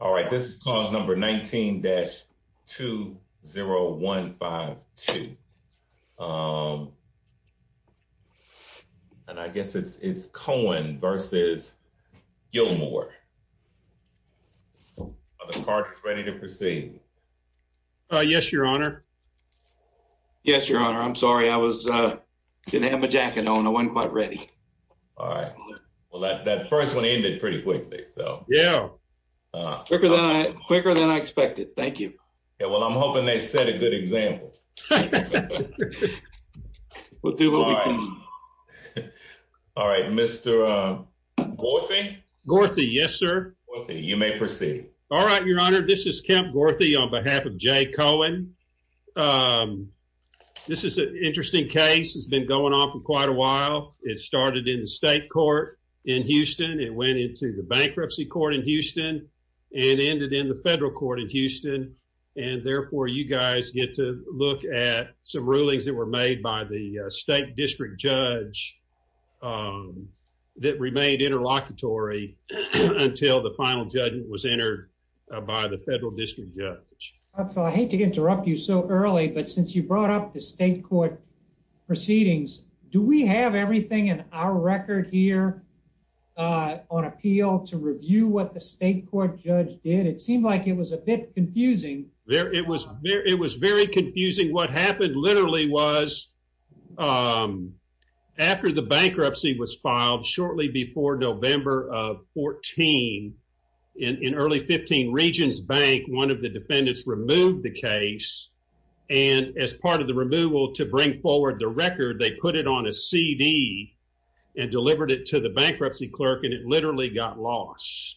All right, this is cause number 19-20152. And I guess it's it's Cohen versus Gilmore. Are the parties ready to proceed? Yes, your honor. Yes, your honor. I'm sorry. I was gonna have my jacket on. I wasn't quite ready. All right. Well, that first one ended pretty quickly. Yeah, quicker than I expected. Thank you. Yeah, well, I'm hoping they set a good example. We'll do what we can. All right, Mr. Gorthy. Gorthy. Yes, sir. You may proceed. All right, your honor. This is Kemp Gorthy on behalf of Jay Cohen. This is an interesting case. It's been going on for quite a while. It started in the state court in Houston. It went into the bankruptcy court in Houston and ended in the federal court in Houston. And therefore, you guys get to look at some rulings that were made by the state district judge that remained interlocutory until the final judgment was entered by the federal district judge. I hate to interrupt you so early, but since you brought up the state court proceedings, do we have everything in our record here on appeal to review what the state court judge did? It seemed like it was a bit confusing. It was very confusing. What happened literally was after the bankruptcy was filed shortly before November of 14, in early 15, Regions Bank, one of the defendants removed the case. And as part of the removal to bring forward the record, they put it on a C. D. And delivered it to the bankruptcy clerk, and it literally got lost.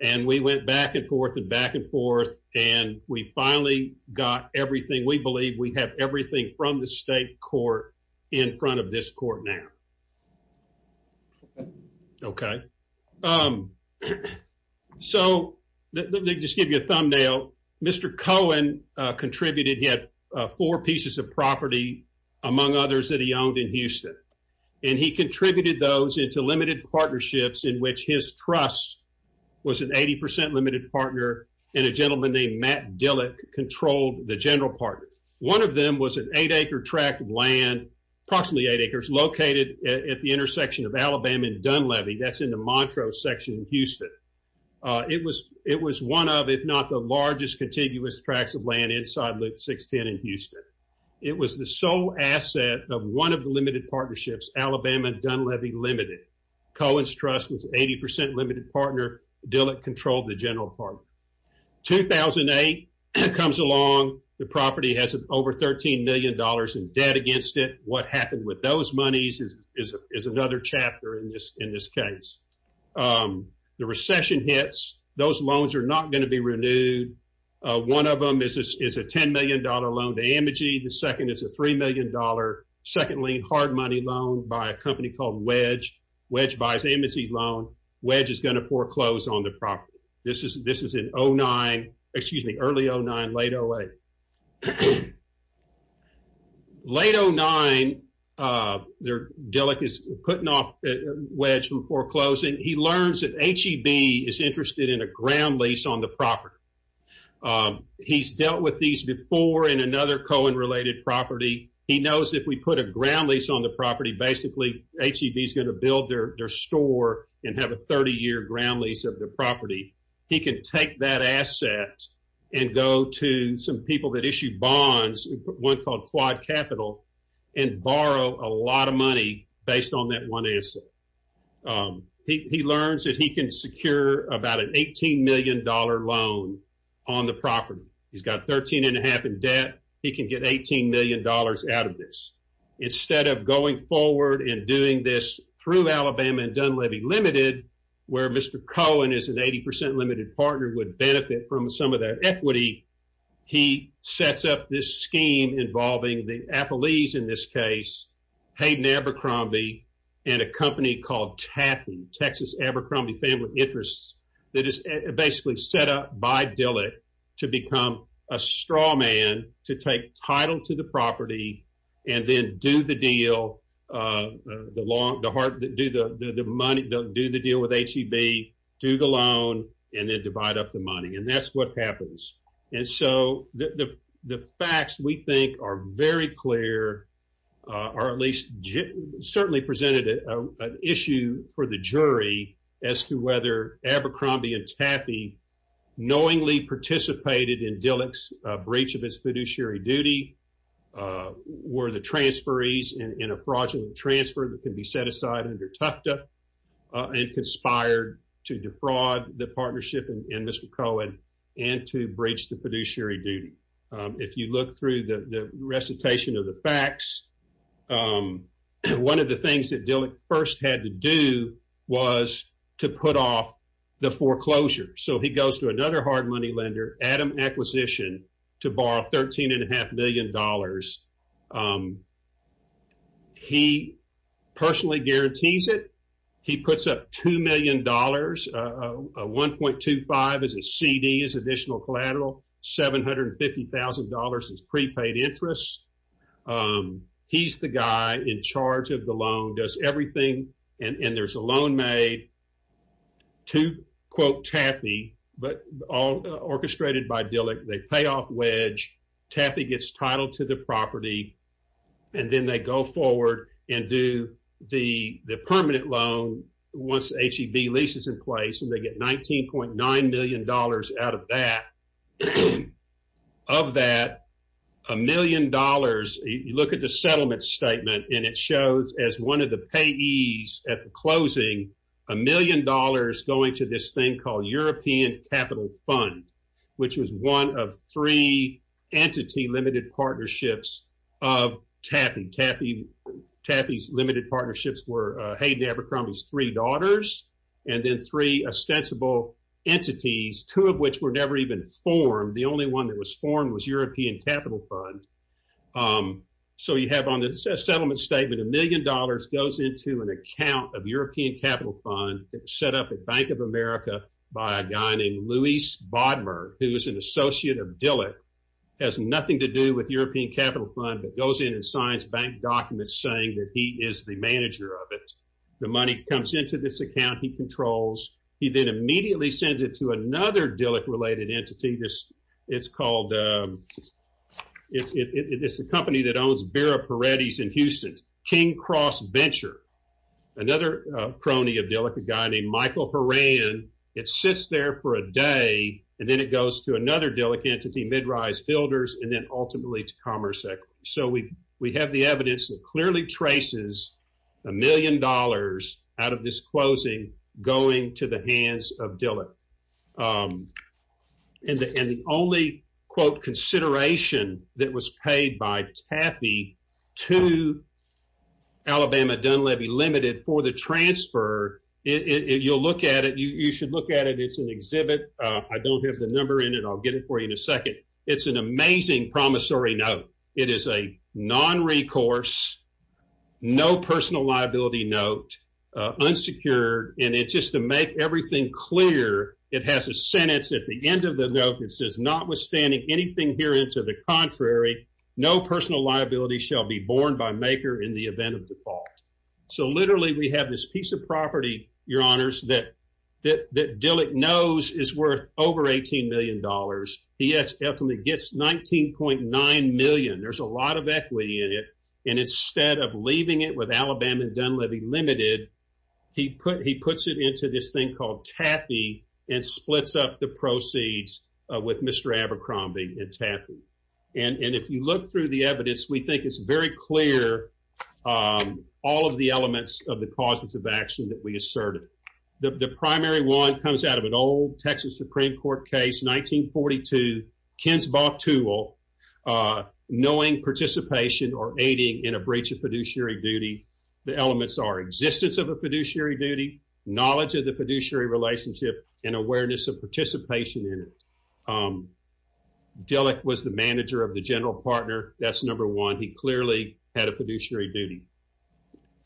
And we went back and forth and back and forth, and we finally got everything. We believe we have everything from the state court in front of this court now. Okay, um, so let me just give you a thumbnail. Mr Cohen contributed. He had four pieces of property, among others that he owned in Houston, and he contributed those into limited partnerships in which his trust was an 80% limited partner. And a gentleman named Matt Dillick controlled the general partner. One of them was an eight acre tract of land, approximately eight acres, located at the intersection of Alabama and Dunleavy. That's in the Montrose section in Houston. It was one of, if not the largest, contiguous tracts of land inside Loop 610 in Houston. It was the sole asset of one of the limited partnerships, Alabama and Dunleavy Limited. Cohen's trust was 80% limited partner. Dillick controlled the general partner. 2008 comes along. The property has over $13 million in debt against it. What happened with those monies is another chapter in this case. The recession hits. Those loans are not going to be renewed. One of them is a $10 million loan to Amagy. The second is a $3 million, secondly, hard money loan by a company called Wedge. Wedge buys Amagy's loan. Wedge is going to foreclose on the property. This is in 09, excuse me, early 09, late 08. Late 09, Dillick is putting off Wedge from foreclosing. He learns that HEB is interested in a ground lease on the property. He's dealt with these before in another Cohen-related property. He knows if we put a ground lease on the property, basically HEB is going to build their store and have a 30-year ground lease of the property. He can take that asset and go to some people that issue bonds, one called Quad Capital, and borrow a lot of money based on that one asset. He learns that he can secure about an $18 million loan on the property. He's got $13.5 million in debt. He can get $18 million out of this. Instead of going forward and doing this through Alabama and Dunleavy Ltd., where Mr. Cohen is an 80% limited partner, would benefit from some of that equity. He sets up this scheme involving the Appleese in this case, Hayden Abercrombie, and a company called Taffy, Texas Abercrombie Family Interests, that is basically set up by Dillick to become a straw man to take title to the property and then do the deal, do the deal with HEB, do the loan, and then divide up the money. That's what happens. The facts, we think, are very clear, or at least certainly presented an issue for the jury as to whether Abercrombie and Taffy knowingly participated in Dillick's breach of its fiduciary duty were the transferees in a fraudulent transfer that could be set aside under Tufta and conspired to defraud the partnership and Mr. Cohen and to breach the fiduciary duty. If you look through the recitation of the facts, one of the things that Dillick first had to do was to put off the foreclosure. He goes to another hard money lender, Adam Acquisition, to borrow $13.5 million. He personally guarantees it. He puts up $2 million, $1.25 million as a CD, as additional collateral, $750,000 as prepaid interest. He's the guy in charge of the loan, does everything, and there's a loan made to, quote, Taffy, but all orchestrated by Dillick. They pay off wedge. Taffy gets titled to the property, and then they go forward and do the permanent loan once the HEV lease is in place, and they get $19.9 million out of that. Of that, $1 million, you look at the settlement statement, and it shows as one of the payees at the closing, $1 million going to this thing called European Capital Fund, which was one of three entity-limited partnerships of Taffy. Taffy's limited partnerships were Hayden Abercrombie's three daughters and then three ostensible entities, two of which were never even formed. The only one that was formed was European Capital Fund. So you have on the settlement statement, $1 million goes into an account of European Capital Fund that was set up at Bank of America by a guy named Luis Bodmer, who is an associate of Dillick, has nothing to do with European Capital Fund, but goes in and signs bank documents saying that he is the manager of it. The money comes into this account he controls. He then immediately sends it to another Dillick-related entity. It's the company that owns Vera Peretti's in Houston, King Cross Venture, another crony of Dillick, a guy named Michael Horan. It sits there for a day, and then it goes to another Dillick entity, Mid-Rise Builders, and then ultimately to Commerce Equity. So we have the evidence that the only, quote, consideration that was paid by Taffy to Alabama Dunlevy Limited for the transfer, you'll look at it, you should look at it. It's an exhibit. I don't have the number in it. I'll get it for you in a second. It's an amazing promissory note. It is a non-recourse, no personal liability note, unsecured, and it's just to make everything clear, it has a sentence at the end of the note that says, notwithstanding anything herein to the contrary, no personal liability shall be borne by maker in the event of default. So literally, we have this piece of property, your honors, that Dillick knows is worth over $18 million. He ultimately gets $19.9 million. There's a lot of equity in it, and instead of leaving it with Alabama Dunlevy Limited, he puts it into this thing called Taffy and splits up the proceeds with Mr. Abercrombie and Taffy. And if you look through the evidence, we think it's very clear all of the elements of the causes of action that we asserted. The primary one comes out of an old Texas Supreme Court case, 1942, Kinsbaugh-Tool, knowing participation or aiding in a breach of fiduciary duty. The elements are existence of a fiduciary duty, knowledge of the fiduciary relationship, and awareness of participation in it. Dillick was the manager of the general partner. That's number one. He clearly had a fiduciary duty.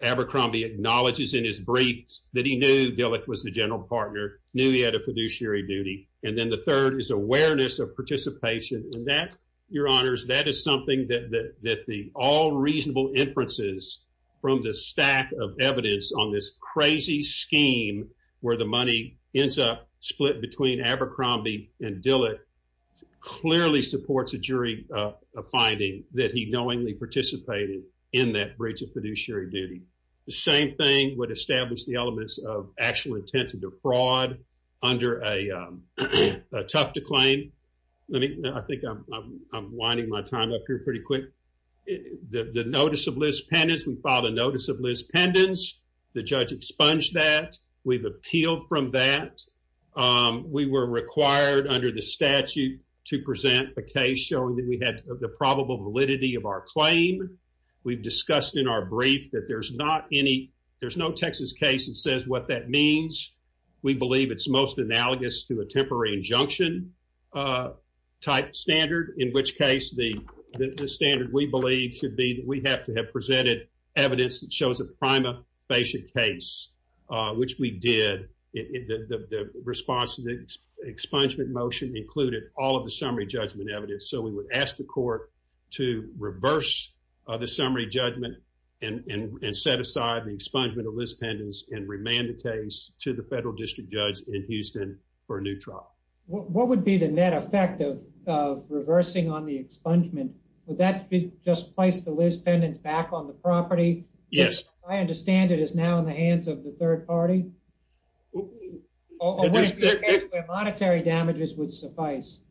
Abercrombie acknowledges in his briefs that he knew Dillick was the general partner, knew he had a fiduciary duty. And then the third is awareness of participation. And that, Your Honors, that is something that the all reasonable inferences from the stack of evidence on this crazy scheme where the money ends up split between Abercrombie and Dillick clearly supports a jury finding that he knowingly participated in that breach of fiduciary duty. The same thing would establish the elements of actual intent to defraud under a tough to claim. I think I'm winding my time up here pretty quick. The notice of Liz Pendens, we filed a notice of Liz Pendens. The judge expunged that. We've appealed from that. We were required under the statute to present a case showing that we had the probable validity of our claim. We've discussed in our brief that there's no Texas case that says what that means. We believe it's most analogous to a temporary injunction type standard, in which case the standard we believe should be that we have to have presented evidence that shows a prima facie case, which we did. The response to the expungement motion included all of the summary judgment evidence. So we would ask the court to reverse the summary judgment and set aside the expungement of Liz Pendens and remand the case to the federal district judge in Houston for a new trial. What would be the net effect of reversing on the expungement? Would that just place the Liz Pendens back on the property? Yes. I understand it is now in the hands of the third party. Or would it be a case where monetary damages would suffice?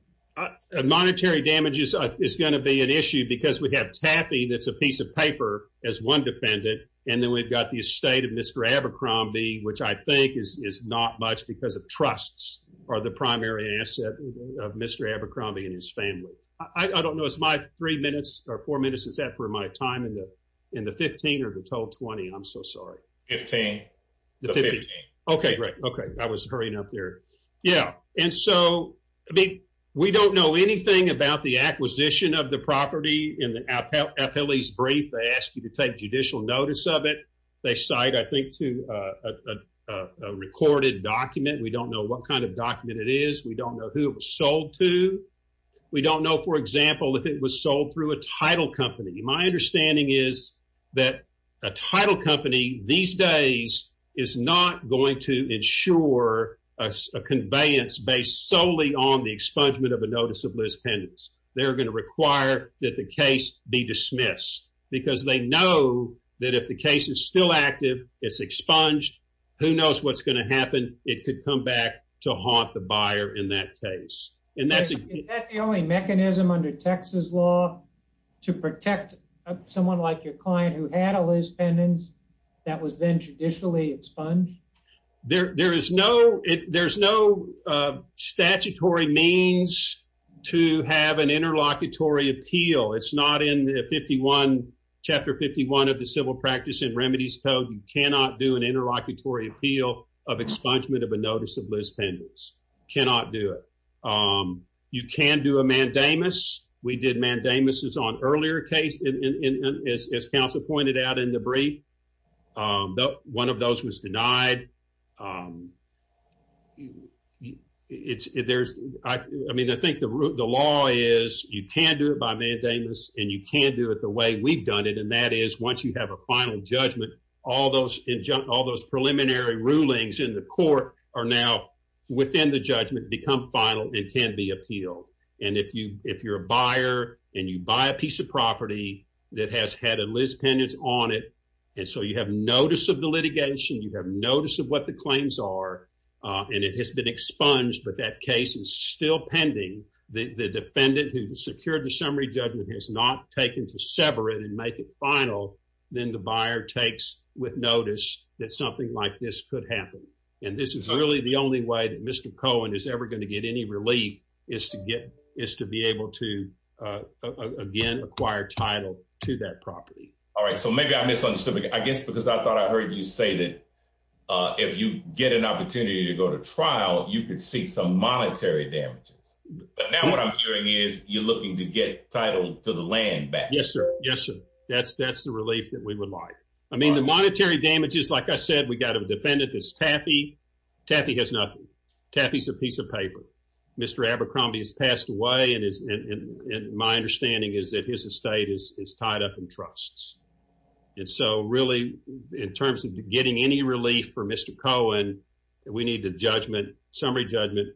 Monetary damages is going to be an issue because we have Taffy that's a piece of paper as one defendant. And then we've got the estate of Mr. Abercrombie, which I think is not much because of trusts are the primary asset of Mr. Abercrombie and his family. I don't know. It's my three minutes or four minutes. Is that for my time in the in the 15 or the total 20? I'm so sorry. 15. Okay, great. Okay. I was hurrying up there. Yeah. And so I mean, we don't know anything about the acquisition of the property in the appellee's brief. They ask you to take judicial notice of it. They cite, I think, to a recorded document. We don't know what kind of document it is. We don't know who it was sold to. We don't know, for example, if it was sold through a title company. My understanding is that a title company these days is not going to ensure a conveyance based solely on the expungement of a notice of lisbettenance. They're going to require that the case be dismissed because they know that if the case is still active, it's expunged. Who knows what's going to happen? It could come back to haunt the buyer in that case. And that's the only mechanism under Texas law to protect someone like your client who had a lisbettenance that was then traditionally expunged. There is no statutory means to have an interlocutory appeal. It's not in Chapter 51 of the Civil Practice and Remedies Code. You cannot do an interlocutory appeal of expungement of a notice of lisbettenance. Cannot do it. You can do a mandamus. We did mandamus on earlier cases, as counsel pointed out in the brief. One of those was denied. I mean, I think the law is you can do it by mandamus and you can do it the way we've done it, and that is once you have a final judgment, all those preliminary rulings in the court are now within the judgment, become final, and can be appealed. And if you're a buyer and you buy a piece of property that has had a lisbettenance on it, and so you have notice of the litigation, you have notice of what the claims are, and it has been expunged, but that case is still pending, the defendant who secured the summary judgment has not taken to sever it and make it final, then the buyer takes with notice that something like this could happen. And this is really the only way that Mr. Cohen is ever going to get any relief is to be able to, again, acquire title to that property. All right. So maybe I misunderstood. I guess because I thought I heard you say that if you get an opportunity to go to trial, you could see some monetary damages. But now what I'm hearing is you're looking to get title to the land back. Yes, sir. Yes, sir. That's the relief that we would like. I mean, monetary damages, like I said, we got a defendant that's Taffy. Taffy has nothing. Taffy's a piece of paper. Mr. Abercrombie has passed away, and my understanding is that his estate is tied up in trusts. And so really, in terms of getting any relief for Mr. Cohen, we need the summary judgment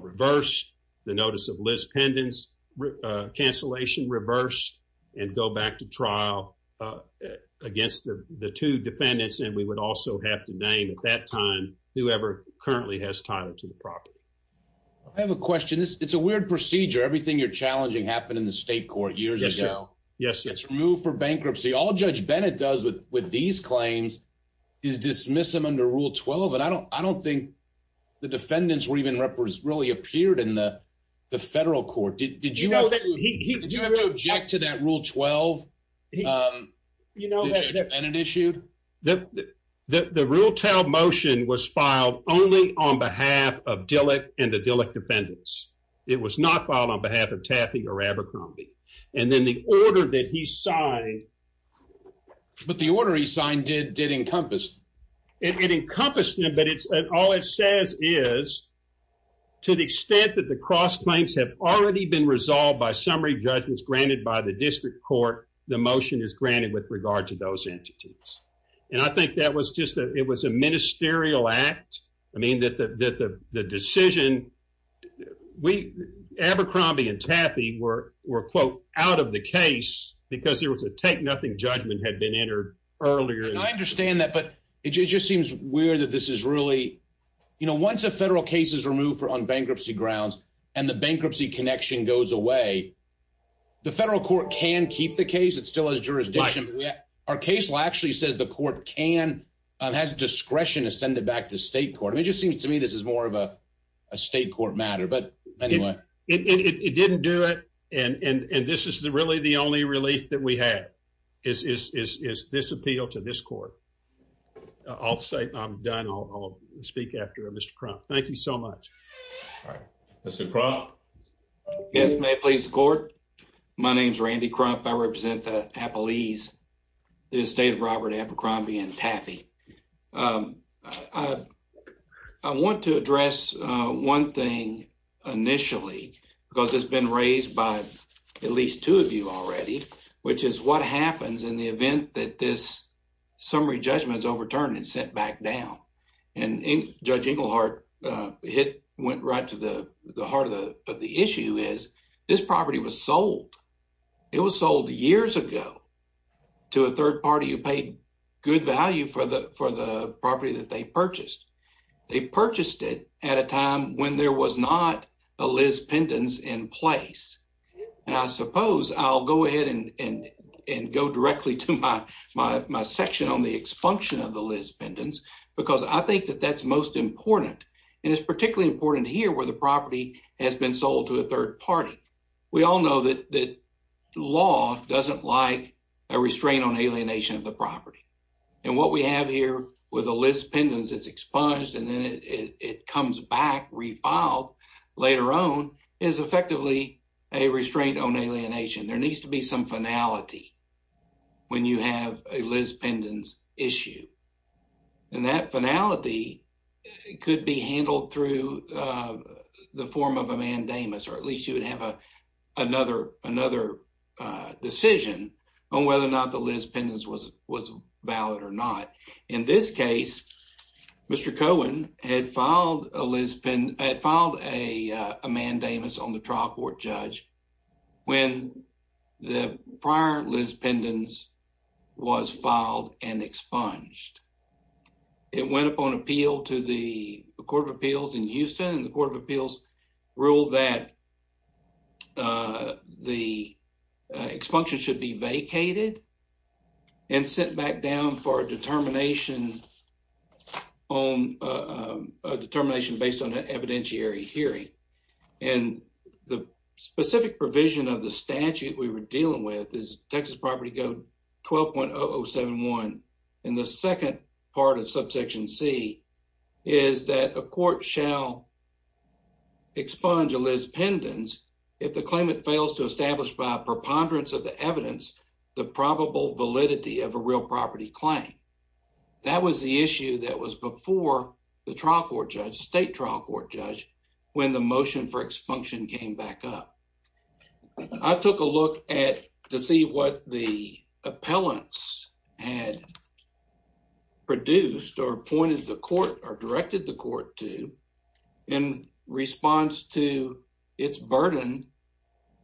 reversed, the notice of lisbettenance cancellation reversed, and go back to trial against the two defendants. And we would also have to name at that time whoever currently has title to the property. I have a question. It's a weird procedure. Everything you're challenging happened in the state court years ago. Yes, sir. It's removed for bankruptcy. All Judge Bennett does with these claims is dismiss them under Rule 12. And I don't think the defendants were even really appeared in the federal court. Did you have to object to that Rule 12 that Judge Bennett issued? The Ruletail motion was filed only on behalf of Dillick and the Dillick defendants. It was not filed on behalf of Taffy or Abercrombie. And then the order that he signed... But the order he signed did encompass. It encompassed them, but all it says is, to the extent that the cross-claims have already been resolved by summary judgments granted by the district court, the motion is granted with regard to those entities. And I think that it was a ministerial act. I mean, the decision... Abercrombie and Taffy were, quote, out of the case because there was a take-nothing judgment had been entered earlier. And I understand that, but it just seems weird that this is really... You know, once a federal case is removed on bankruptcy grounds and the bankruptcy connection goes away, the federal court can keep the case. It still has jurisdiction. But our case actually says the court can, has discretion to send it back to state court. It just seems to me this is more of a state court matter. But anyway... It didn't do it. And this is really the only relief that we have, is this appeal to this court. I'll say I'm done. I'll speak after Mr. Crump. Thank you so much. All right. Mr. Crump? Yes, may it please the court. My name is Randy Crump. I represent the Appalese, the estate of Robert Abercrombie and Taffy. I want to address one thing initially, because it's been raised by at least two of you already, which is what happens in the event that this summary judgment is overturned and sent back down. And Judge Englehart hit, went right to the heart of the issue, is this property was sold. It was sold years ago to a third party who paid good value for the property that they purchased. They purchased it at a time when there was not a Liz Pendens in place. And I suppose I'll go ahead and go directly to my section on the expunction of the Liz Pendens, because I think that that's most important. And it's particularly important here where the property has been sold to a third party. We all know that law doesn't like a restraint on alienation of the property. And what we have here with the Liz Pendens, it's expunged and then it comes back refiled later on is effectively a restraint on alienation. There needs to be some finality when you have a Liz Pendens issue. And that finality could be handled through the form of a mandamus, or at least you would have another decision on whether or not the Liz Pendens was valid or not. In this case, Mr. Cohen had filed a mandamus on the trial court judge when the prior Liz Pendens was filed and expunged. It went up on appeal to the Court of Appeals in Houston. The Court of the expunction should be vacated and sent back down for a determination based on an evidentiary hearing. And the specific provision of the statute we were dealing with is Texas Property Code 12.0071. And the second part of subsection C is that a court shall expunge a Liz Pendens if the claimant fails to establish by a preponderance of the evidence the probable validity of a real property claim. That was the issue that was before the trial court judge, the state trial court judge, when the motion for expunction came back up. I took a look to see what the appellants had produced or pointed the court or directed the response to its burden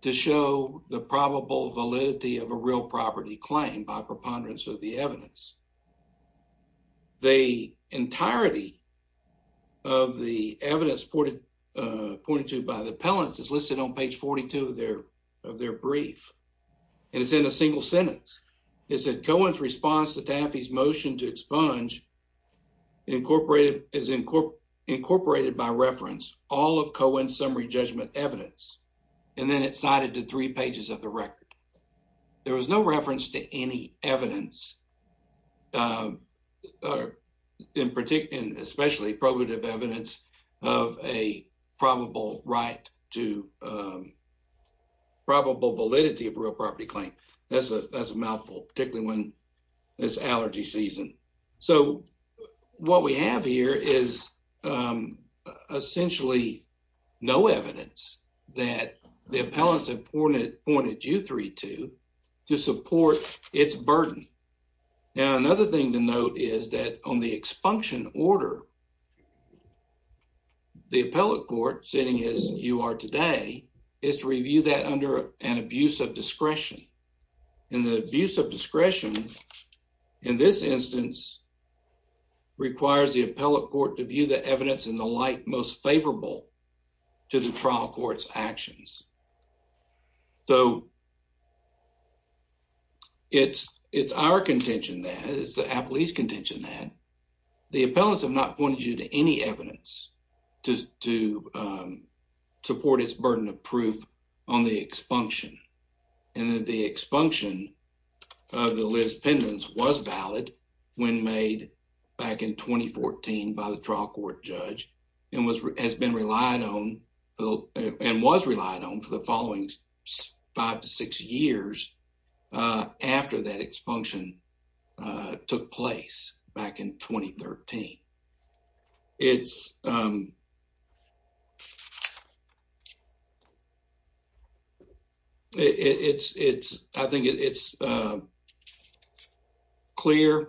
to show the probable validity of a real property claim by preponderance of the evidence. The entirety of the evidence pointed to by the appellants is listed on page 42 of their brief. And it's in a single sentence. It said Cohen's response to Taffy's motion to all of Cohen's summary judgment evidence. And then it's cited to three pages of the record. There was no reference to any evidence, especially probative evidence of a probable validity of a real property claim. That's a no evidence that the appellants have pointed you three to to support its burden. Now, another thing to note is that on the expunction order, the appellate court, sitting as you are today, is to review that under an abuse of discretion. And the abuse of discretion in this instance requires the appellate court to view the most favorable to the trial court's actions. So, it's our contention that, it's the appellate's contention that the appellants have not pointed you to any evidence to support its burden of proof on the expunction. And that the expunction of the Liz Pendens was valid when made back in 2014 by the trial court judge and has been relied on and was relied on for the following five to six years after that expunction took place back in 2013. I think it's clear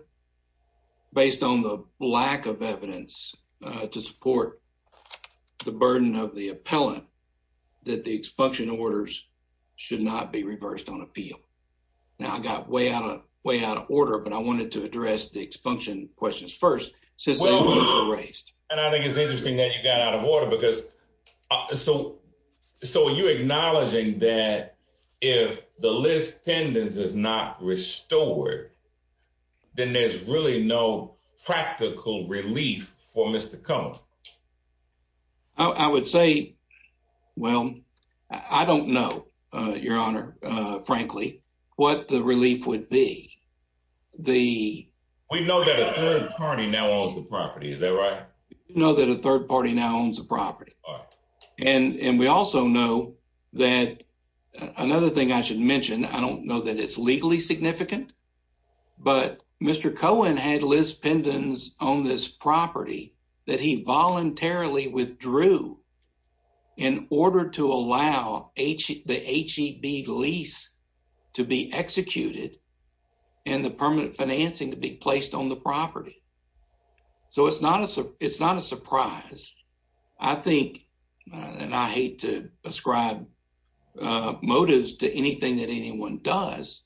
based on the lack of evidence to support the burden of the appellant that the expunction orders should not be reversed on appeal. Now, I got way out of way out of order, but I wanted to address the expunction questions first since they were raised. And I think it's interesting that you got out of order because, so are you acknowledging that if the Liz Pendens is not restored, then there's really no practical relief for Mr. Cummings? I would say, well, I don't know your honor, frankly, what the relief would be. We know that a third party now owns the property, is that right? We know that a third party now owns the property. And we also know that another thing I should mention, I don't know that it's legally significant, but Mr. Cohen had Liz Pendens own this property that he voluntarily withdrew in order to allow the HEB lease to be executed and the permanent financing to be placed on the property. So it's not a surprise. I think, and I hate to ascribe motives to anything that anyone does,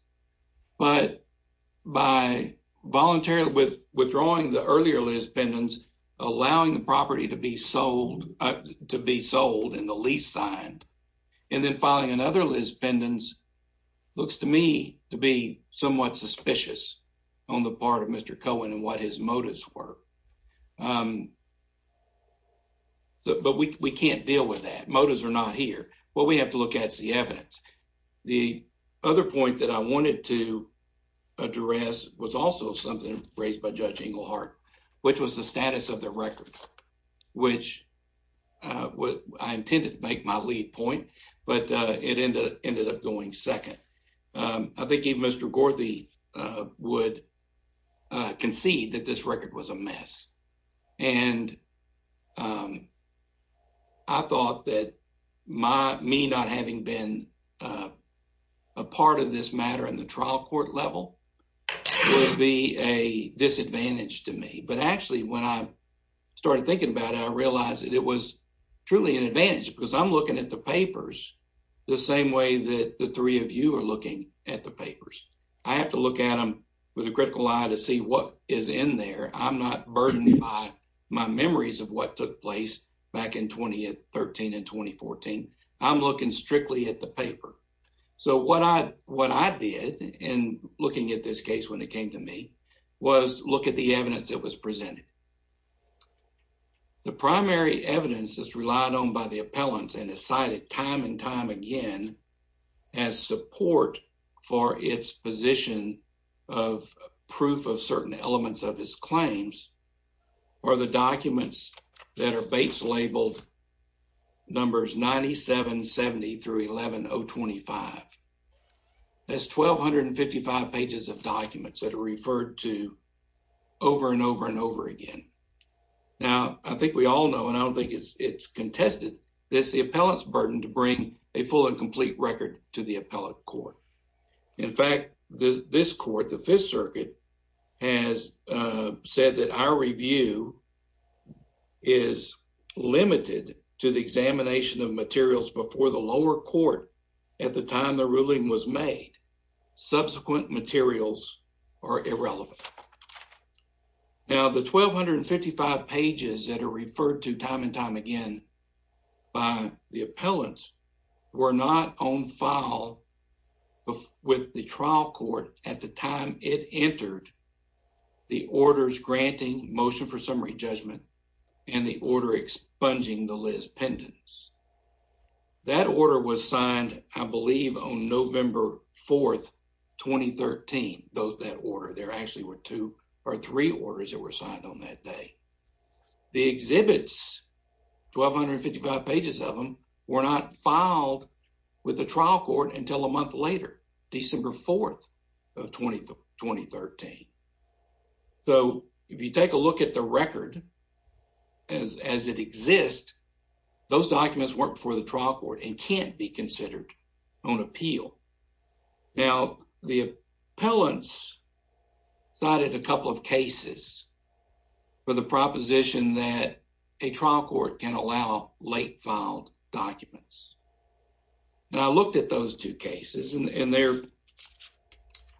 but by voluntarily withdrawing the earlier Liz Pendens, allowing the property to be sold in the lease signed, and then filing another Liz Pendens, looks to me to be somewhat suspicious on the part of Mr. Cohen and what his motives were. But we can't deal with that. Motives are not here. What we have to look at is the evidence. The other point that I wanted to address was also something raised by lead point, but it ended up going second. I think even Mr. Gorthy would concede that this record was a mess. And I thought that me not having been a part of this matter in the trial court level would be a disadvantage to me. But actually when I started thinking about it, I realized that it was truly an advantage because I'm looking at the papers the same way that the three of you are looking at the papers. I have to look at them with a critical eye to see what is in there. I'm not burdened by my memories of what took place back in 2013 and 2014. I'm looking strictly at the paper. So what I did in looking at this case when it came to me was look at the evidence that was presented. The primary evidence that's relied on by the appellants and is cited time and time again as support for its position of proof of certain elements of his claims are the documents that are base labeled numbers 9770 through 11025. That's 1,255 pages of documents that are referred to over and over and over again. Now, I think we all know, and I don't think it's contested, that it's the appellant's burden to bring a full and complete record to the appellate court. In fact, this court, the Fifth Circuit, has said that our review is limited to the examination of materials before the lower court at the time the ruling was made. Subsequent materials are irrelevant. Now, the 1,255 pages that are referred to time and time again by the appellants were not on file with the trial court at the time it entered the orders granting motion for summary judgment and the order expunging the Liz Pendens. That order was signed, I believe, on November 4, 2013, that order. There actually were two or three orders that were signed on that day. The exhibits, 1,255 pages of them, were not filed with the trial court until a month later, December 4, 2013. So, if you take a look at the record as it exists, those documents weren't before the trial court and can't be considered on appeal. Now, the appellants cited a couple of cases for the proposition that a trial court can allow late filed documents. Now, I looked at those two cases and they're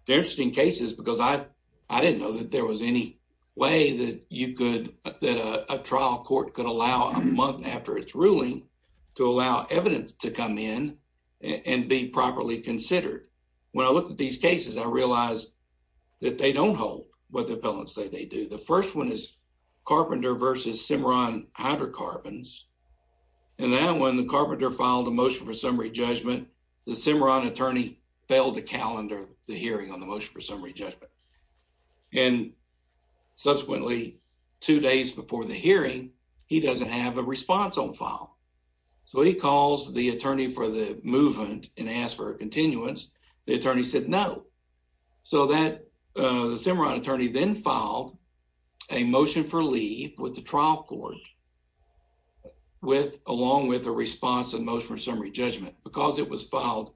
interesting cases because I didn't know that there was any way that a trial court could allow a month after its ruling to allow evidence to come in and be properly considered. When I looked at these cases, I realized that they don't hold what the appellants say they do. The first one is hydrocarbons. When the carpenter filed a motion for summary judgment, the Cimarron attorney failed to calendar the hearing on the motion for summary judgment. Subsequently, two days before the hearing, he doesn't have a response on file. So, when he calls the attorney for the movement and asks for a continuance, the attorney said no. So, the Cimarron attorney then filed a motion for leave with the trial court along with a response and motion for summary judgment. Because it was filed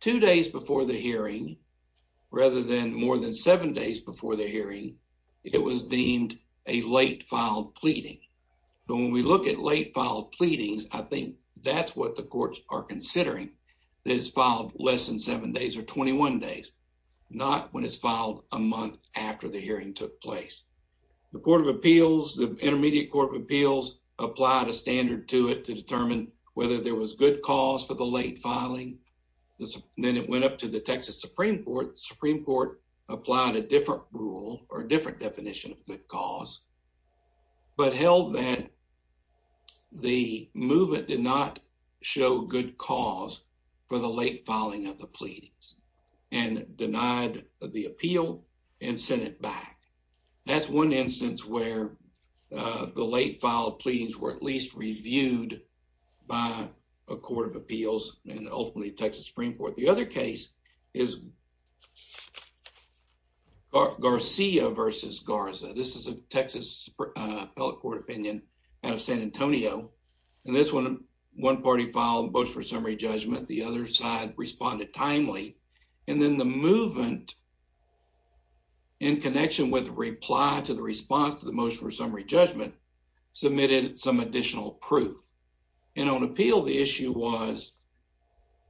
two days before the hearing rather than more than seven days before the hearing, it was deemed a late filed pleading. But when we look at late filed pleadings, I think that's what the courts are considering, that it's filed less than seven days or 21 days, not when it's filed a month after the hearing took place. The Court of Appeals, the Intermediate Court of Appeals applied a standard to it to determine whether there was good cause for the late filing. Then it went up to the Texas Supreme Court. The Supreme Court applied a different rule or a different definition of good cause, but held that the movement did not show good cause for the late filing of the pleadings and denied the appeal and sent it back. That's one instance where the late filed pleadings were at least reviewed by a Court of Appeals and ultimately Texas Supreme Court. The other case is Garcia versus Garza. This is a Texas Appellate Court opinion out of San Antonio. In this one, one party filed a motion for summary judgment, the other side responded timely, and then the movement, in connection with the reply to the response to the motion for summary judgment, submitted some additional proof. On appeal, the issue was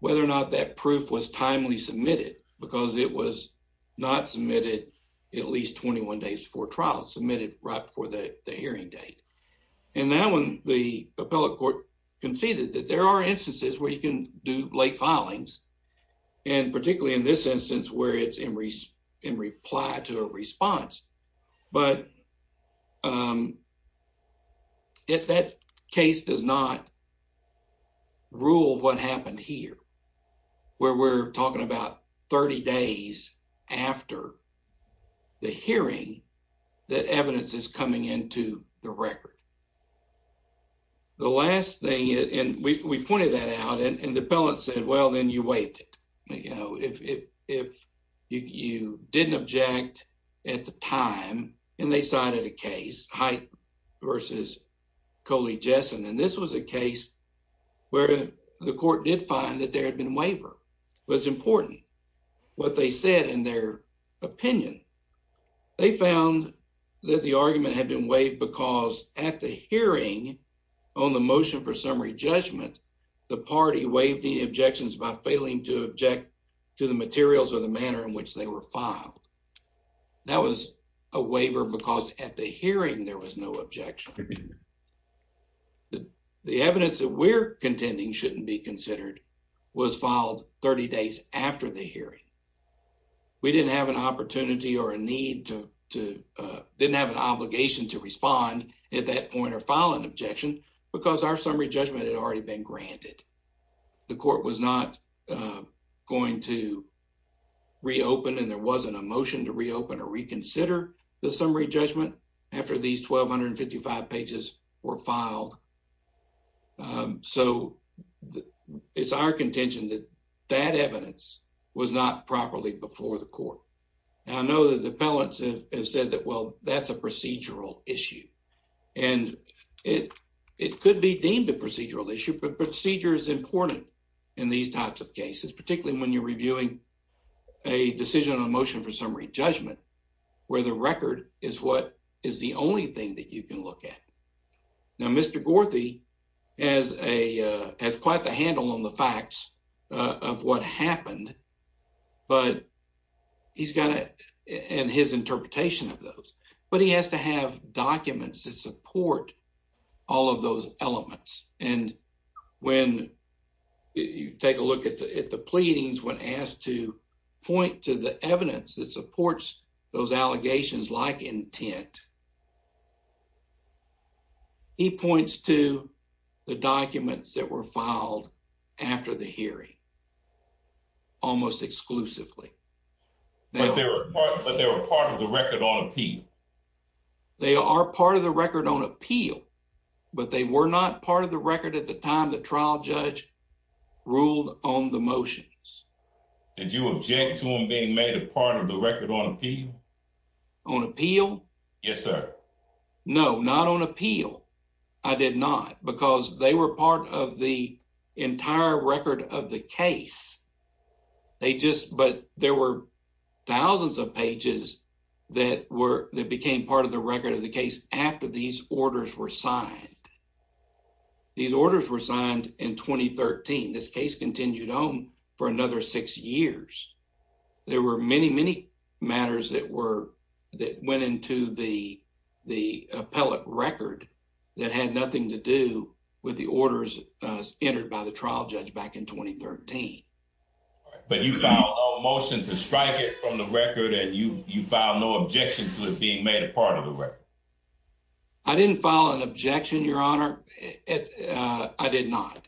whether or not that proof was timely submitted because it was not submitted at least 21 days before trial, submitted right before the hearing date. In that one, the Appellate Court conceded that there are instances where you can do late filings, and particularly in this instance, where it's in reply to a response, but that case does not rule what happened here, where we're talking about 30 days after the hearing that evidence is coming into the record. The last thing is, and we pointed that out, and the Appellate said, well, then you waived it. You know, if you didn't object at the time, and they cited a case, Height versus Coley-Jessen, and this was a case where the court did find that there had been a waiver, was important. What they said in their opinion, they found that the argument had been waived because at the hearing on the motion for summary judgment, the party waived the objections by failing to object to the materials or the manner in which they were filed. That was a waiver because at the hearing, there was no objection. The evidence that we're contending shouldn't be considered was filed 30 days after the hearing. We didn't have an opportunity or a need to, didn't have an obligation to respond at that point or file an objection because our summary judgment had already been granted. The court was not going to reopen, and there wasn't a motion to reopen or reconsider the summary judgment after these 1,255 pages were filed. So, it's our contention that that evidence was not properly before the court. And I know that the Appellants have said that, well, that's a procedural issue. And it could be deemed a procedural issue, but procedure is important in these types of cases, particularly when you're reviewing a decision on a motion for summary judgment, where the record is what is the only thing that you can look at. Now, Mr. Gorthy has quite the handle on the facts of what happened, and his interpretation of those. But he has to have documents that support all of those elements. And when you take a look at the pleadings, when asked to point to the evidence that supports those allegations like intent, he points to the documents that were filed after the hearing, almost exclusively. But they were part of the record on appeal? They are part of the record on appeal, but they were not part of the record at the time the trial judge ruled on the motions. Did you object to them being made a part of the record on appeal? On appeal? Yes, sir. No, not on appeal. I did not, because they were part of the entire record of the case. They just, but there were thousands of pages that were, that became part of the record of the case after these orders were signed. These orders were signed in 2013. This case continued on for another six years. There were many, many matters that were, that went into the appellate record that had nothing to do with the orders entered by the trial judge back in 2013. But you filed no motion to strike it from the record and you filed no objection to it being made a part of the record? I didn't file an objection, Your Honor. I did not.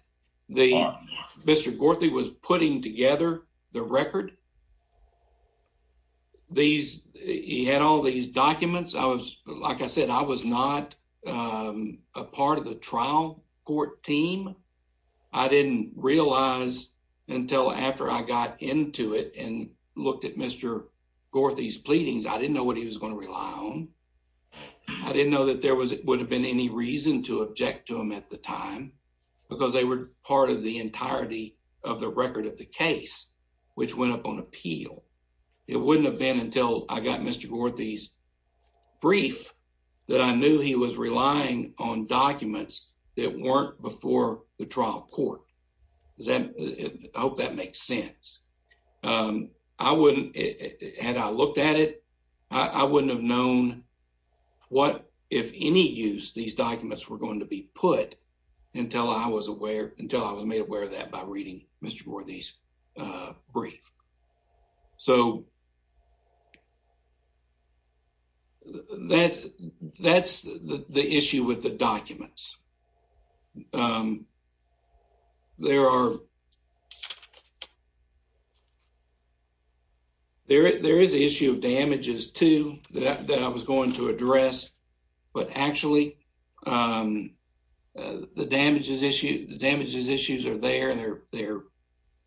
Mr. Gorthy was putting together the record. These, he had all these documents. I was, like I said, I was not a part of the trial court team. I didn't realize until after I got into it and looked at Mr. Gorthy's pleadings, I didn't know what he was going to rely on. I didn't know that there was, would have been any reason to object to him at the time, because they were part of the entirety of the record of the case, which went up on appeal. It wouldn't have been until I got Mr. Gorthy's brief that I knew he was relying on documents that weren't before the trial court. Does that, I hope that makes sense. I wouldn't, had I looked at it, I wouldn't have known what, if any use, these documents were going to be put until I was aware, until I was made aware of that by reading Mr. Gorthy's brief. So, that's the issue with the documents. There are, there is the issue of damages too, that I was going to address. But actually, the damages issue, the damages issues are there. They're,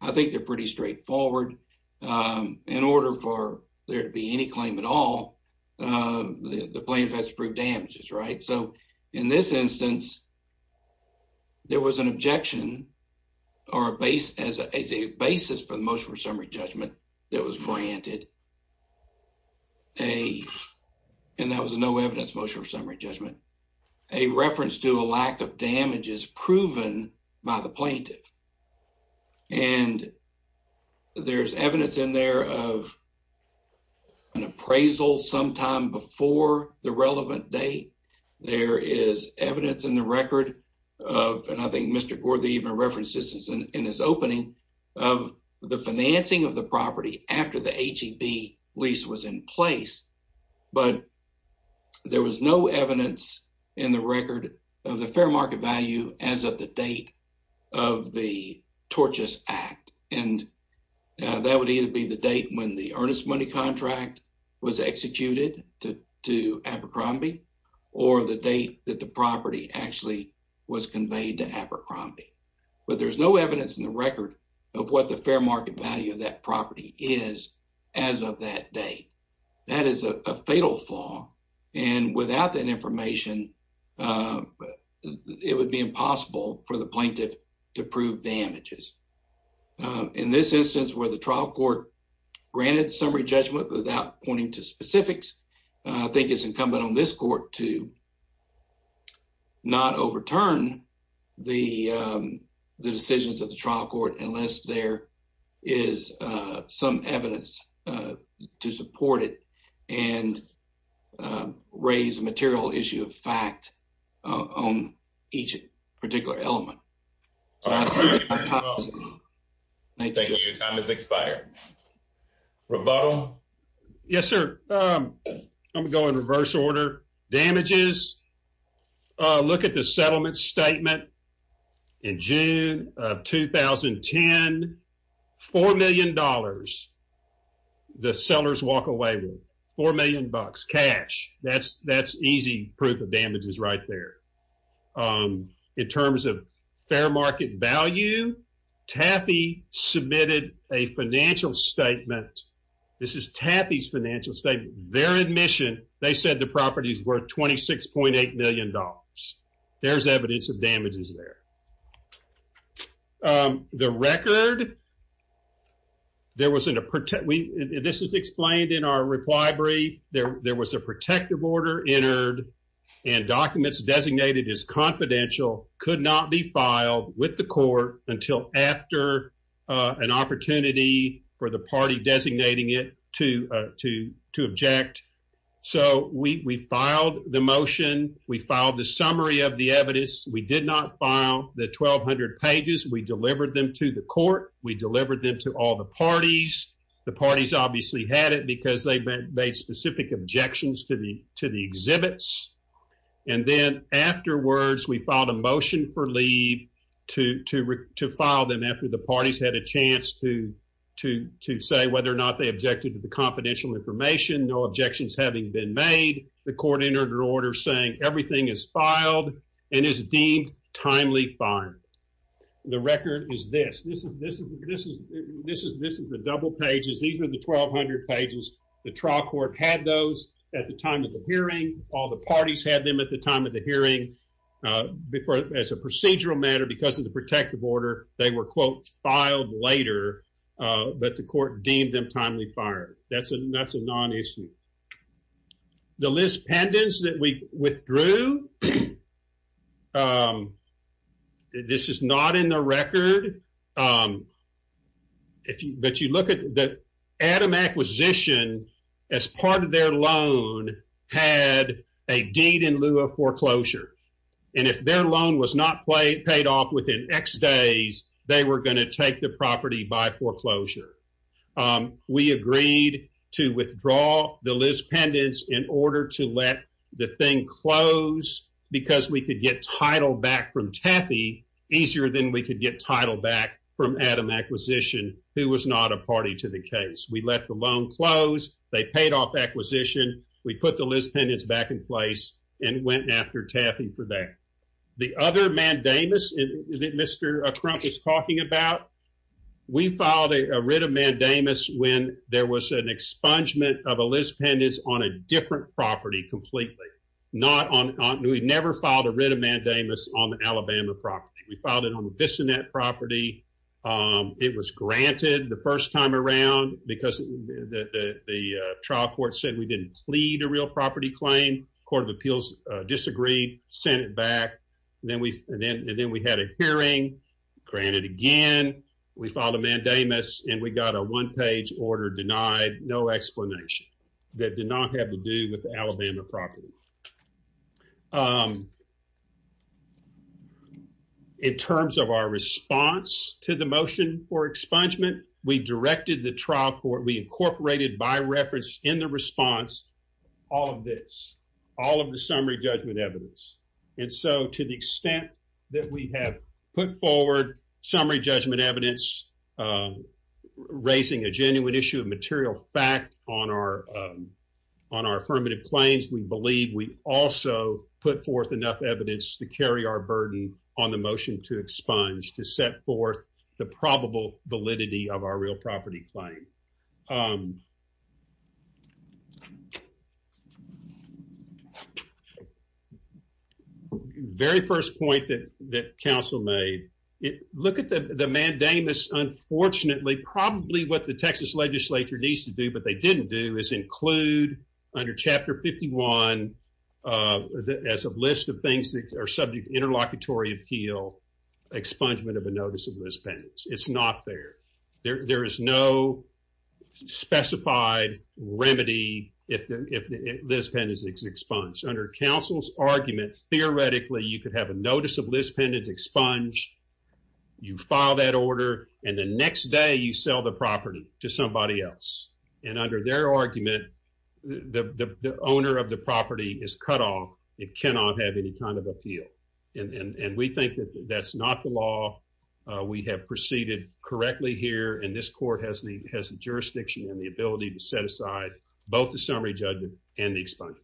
I think they're pretty straightforward. In order for there to be any claim at all, the plaintiff has to prove damages, right? So, in this instance, there was an objection or a base, as a basis for the motion for summary judgment that was granted. And that was a no evidence motion for summary judgment. A reference to a lack of damage is proven by the plaintiff. And there's evidence in there of an appraisal sometime before the relevant date. There is evidence in the record of, and I think after the H-E-B lease was in place, but there was no evidence in the record of the fair market value as of the date of the Torches Act. And that would either be the date when the earnest money contract was executed to Abercrombie, or the date that the property actually was conveyed to Abercrombie. But there's no evidence in the record of what the fair market value of that property is as of that date. That is a fatal flaw. And without that information, it would be impossible for the plaintiff to prove damages. In this instance, where the trial court granted summary judgment without pointing to specifics, I think it's incumbent on this court to not overturn the decisions of the trial court unless there is some evidence to support it and raise a material issue of fact on each particular element. Thank you. Your time has expired. Yes, sir. I'm going to go in reverse order. Damages. Look at the settlement statement in June of 2010. $4 million the sellers walk away with. $4 million. Cash. That's easy proof of statement. This is Taffy's financial statement. Their admission, they said the property is worth $26.8 million. There's evidence of damages there. The record, this is explained in our reply brief, there was a protective order entered and documents designated as confidential could not be filed with the court until after an opportunity for the party designating it to object. So we filed the motion. We filed the summary of the evidence. We did not file the 1,200 pages. We delivered them to the court. We delivered them to all the parties. The parties obviously had it because they made specific objections to the exhibits. And then afterwards, we filed a motion for leave to file them after parties had a chance to say whether or not they objected to the confidential information, no objections having been made. The court entered an order saying everything is filed and is deemed timely fine. The record is this. This is the double pages. These are the 1,200 pages. The trial court had those at the time of the hearing. All the parties had them at the time of the hearing as a procedural matter because of the protective order. They were, quote, filed later, but the court deemed them timely fired. That's a non-issue. The list pendants that we withdrew, this is not in the record, but you look at the Adam acquisition as part of their had a deed in lieu of foreclosure. And if their loan was not paid off within X days, they were going to take the property by foreclosure. We agreed to withdraw the list pendants in order to let the thing close because we could get title back from Taffy easier than we could get title back from Adam acquisition, who was not a party to the case. We let the loan close. They paid off acquisition. We put the list pendants back in place and went after Taffy for that. The other mandamus that Mr. Crump was talking about, we filed a writ of mandamus when there was an expungement of a list pendants on a different property completely. We never filed a writ of mandamus on the Alabama property. We filed it on a Bissonette property. It was granted the first time around because the trial court said we didn't plead a real property claim. Court of Appeals disagreed, sent it back, and then we had a hearing, granted again. We filed a mandamus and we got a one-page order denied, no explanation. That did not have to do with Alabama property. In terms of our response to the motion for expungement, we directed the trial court, we incorporated by reference in the response, all of this, all of the summary judgment evidence. And so to the extent that we have put forward summary judgment evidence, uh, raising a genuine issue of material fact on our, um, on our affirmative claims, we believe we also put forth enough evidence to carry our burden on the motion to expunge, to set forth the probable validity of our real property claim. Um, very first point that, that counsel made, it, look at the, the mandamus, unfortunately, probably what the Texas legislature needs to do, but they didn't do, is include under chapter 51, uh, as a list of things that are subject to interlocutory appeal, expungement of a notice of list pendants. It's not fair. There, there is no specified remedy if the, if the list pendants is expunged. Under counsel's arguments, theoretically, you could have a notice of list pendants expunged, you file that order, and the next day you sell the property to somebody else. And under their argument, the, the, the owner of the property is cut off. It cannot have any kind of appeal. And, and, and we think that that's not the law. Uh, we have proceeded correctly here, and this court has the, has the jurisdiction and the ability to set aside both the summary judgment and the expungement.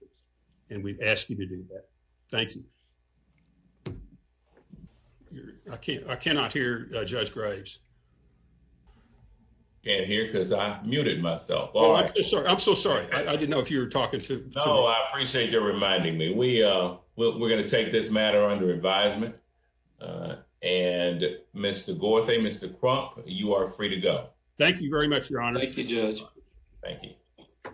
And we've asked you to do that. Thank you. I can't, I cannot hear Judge Graves. Can't hear, because I muted myself. Oh, I'm so sorry. I didn't know if you were talking to me. I appreciate your reminding me. We, uh, we're going to take this matter under advisement. And Mr. Gorthay, Mr. Crump, you are free to go. Thank you very much, Your Honor. Thank you, Judge. Thank you.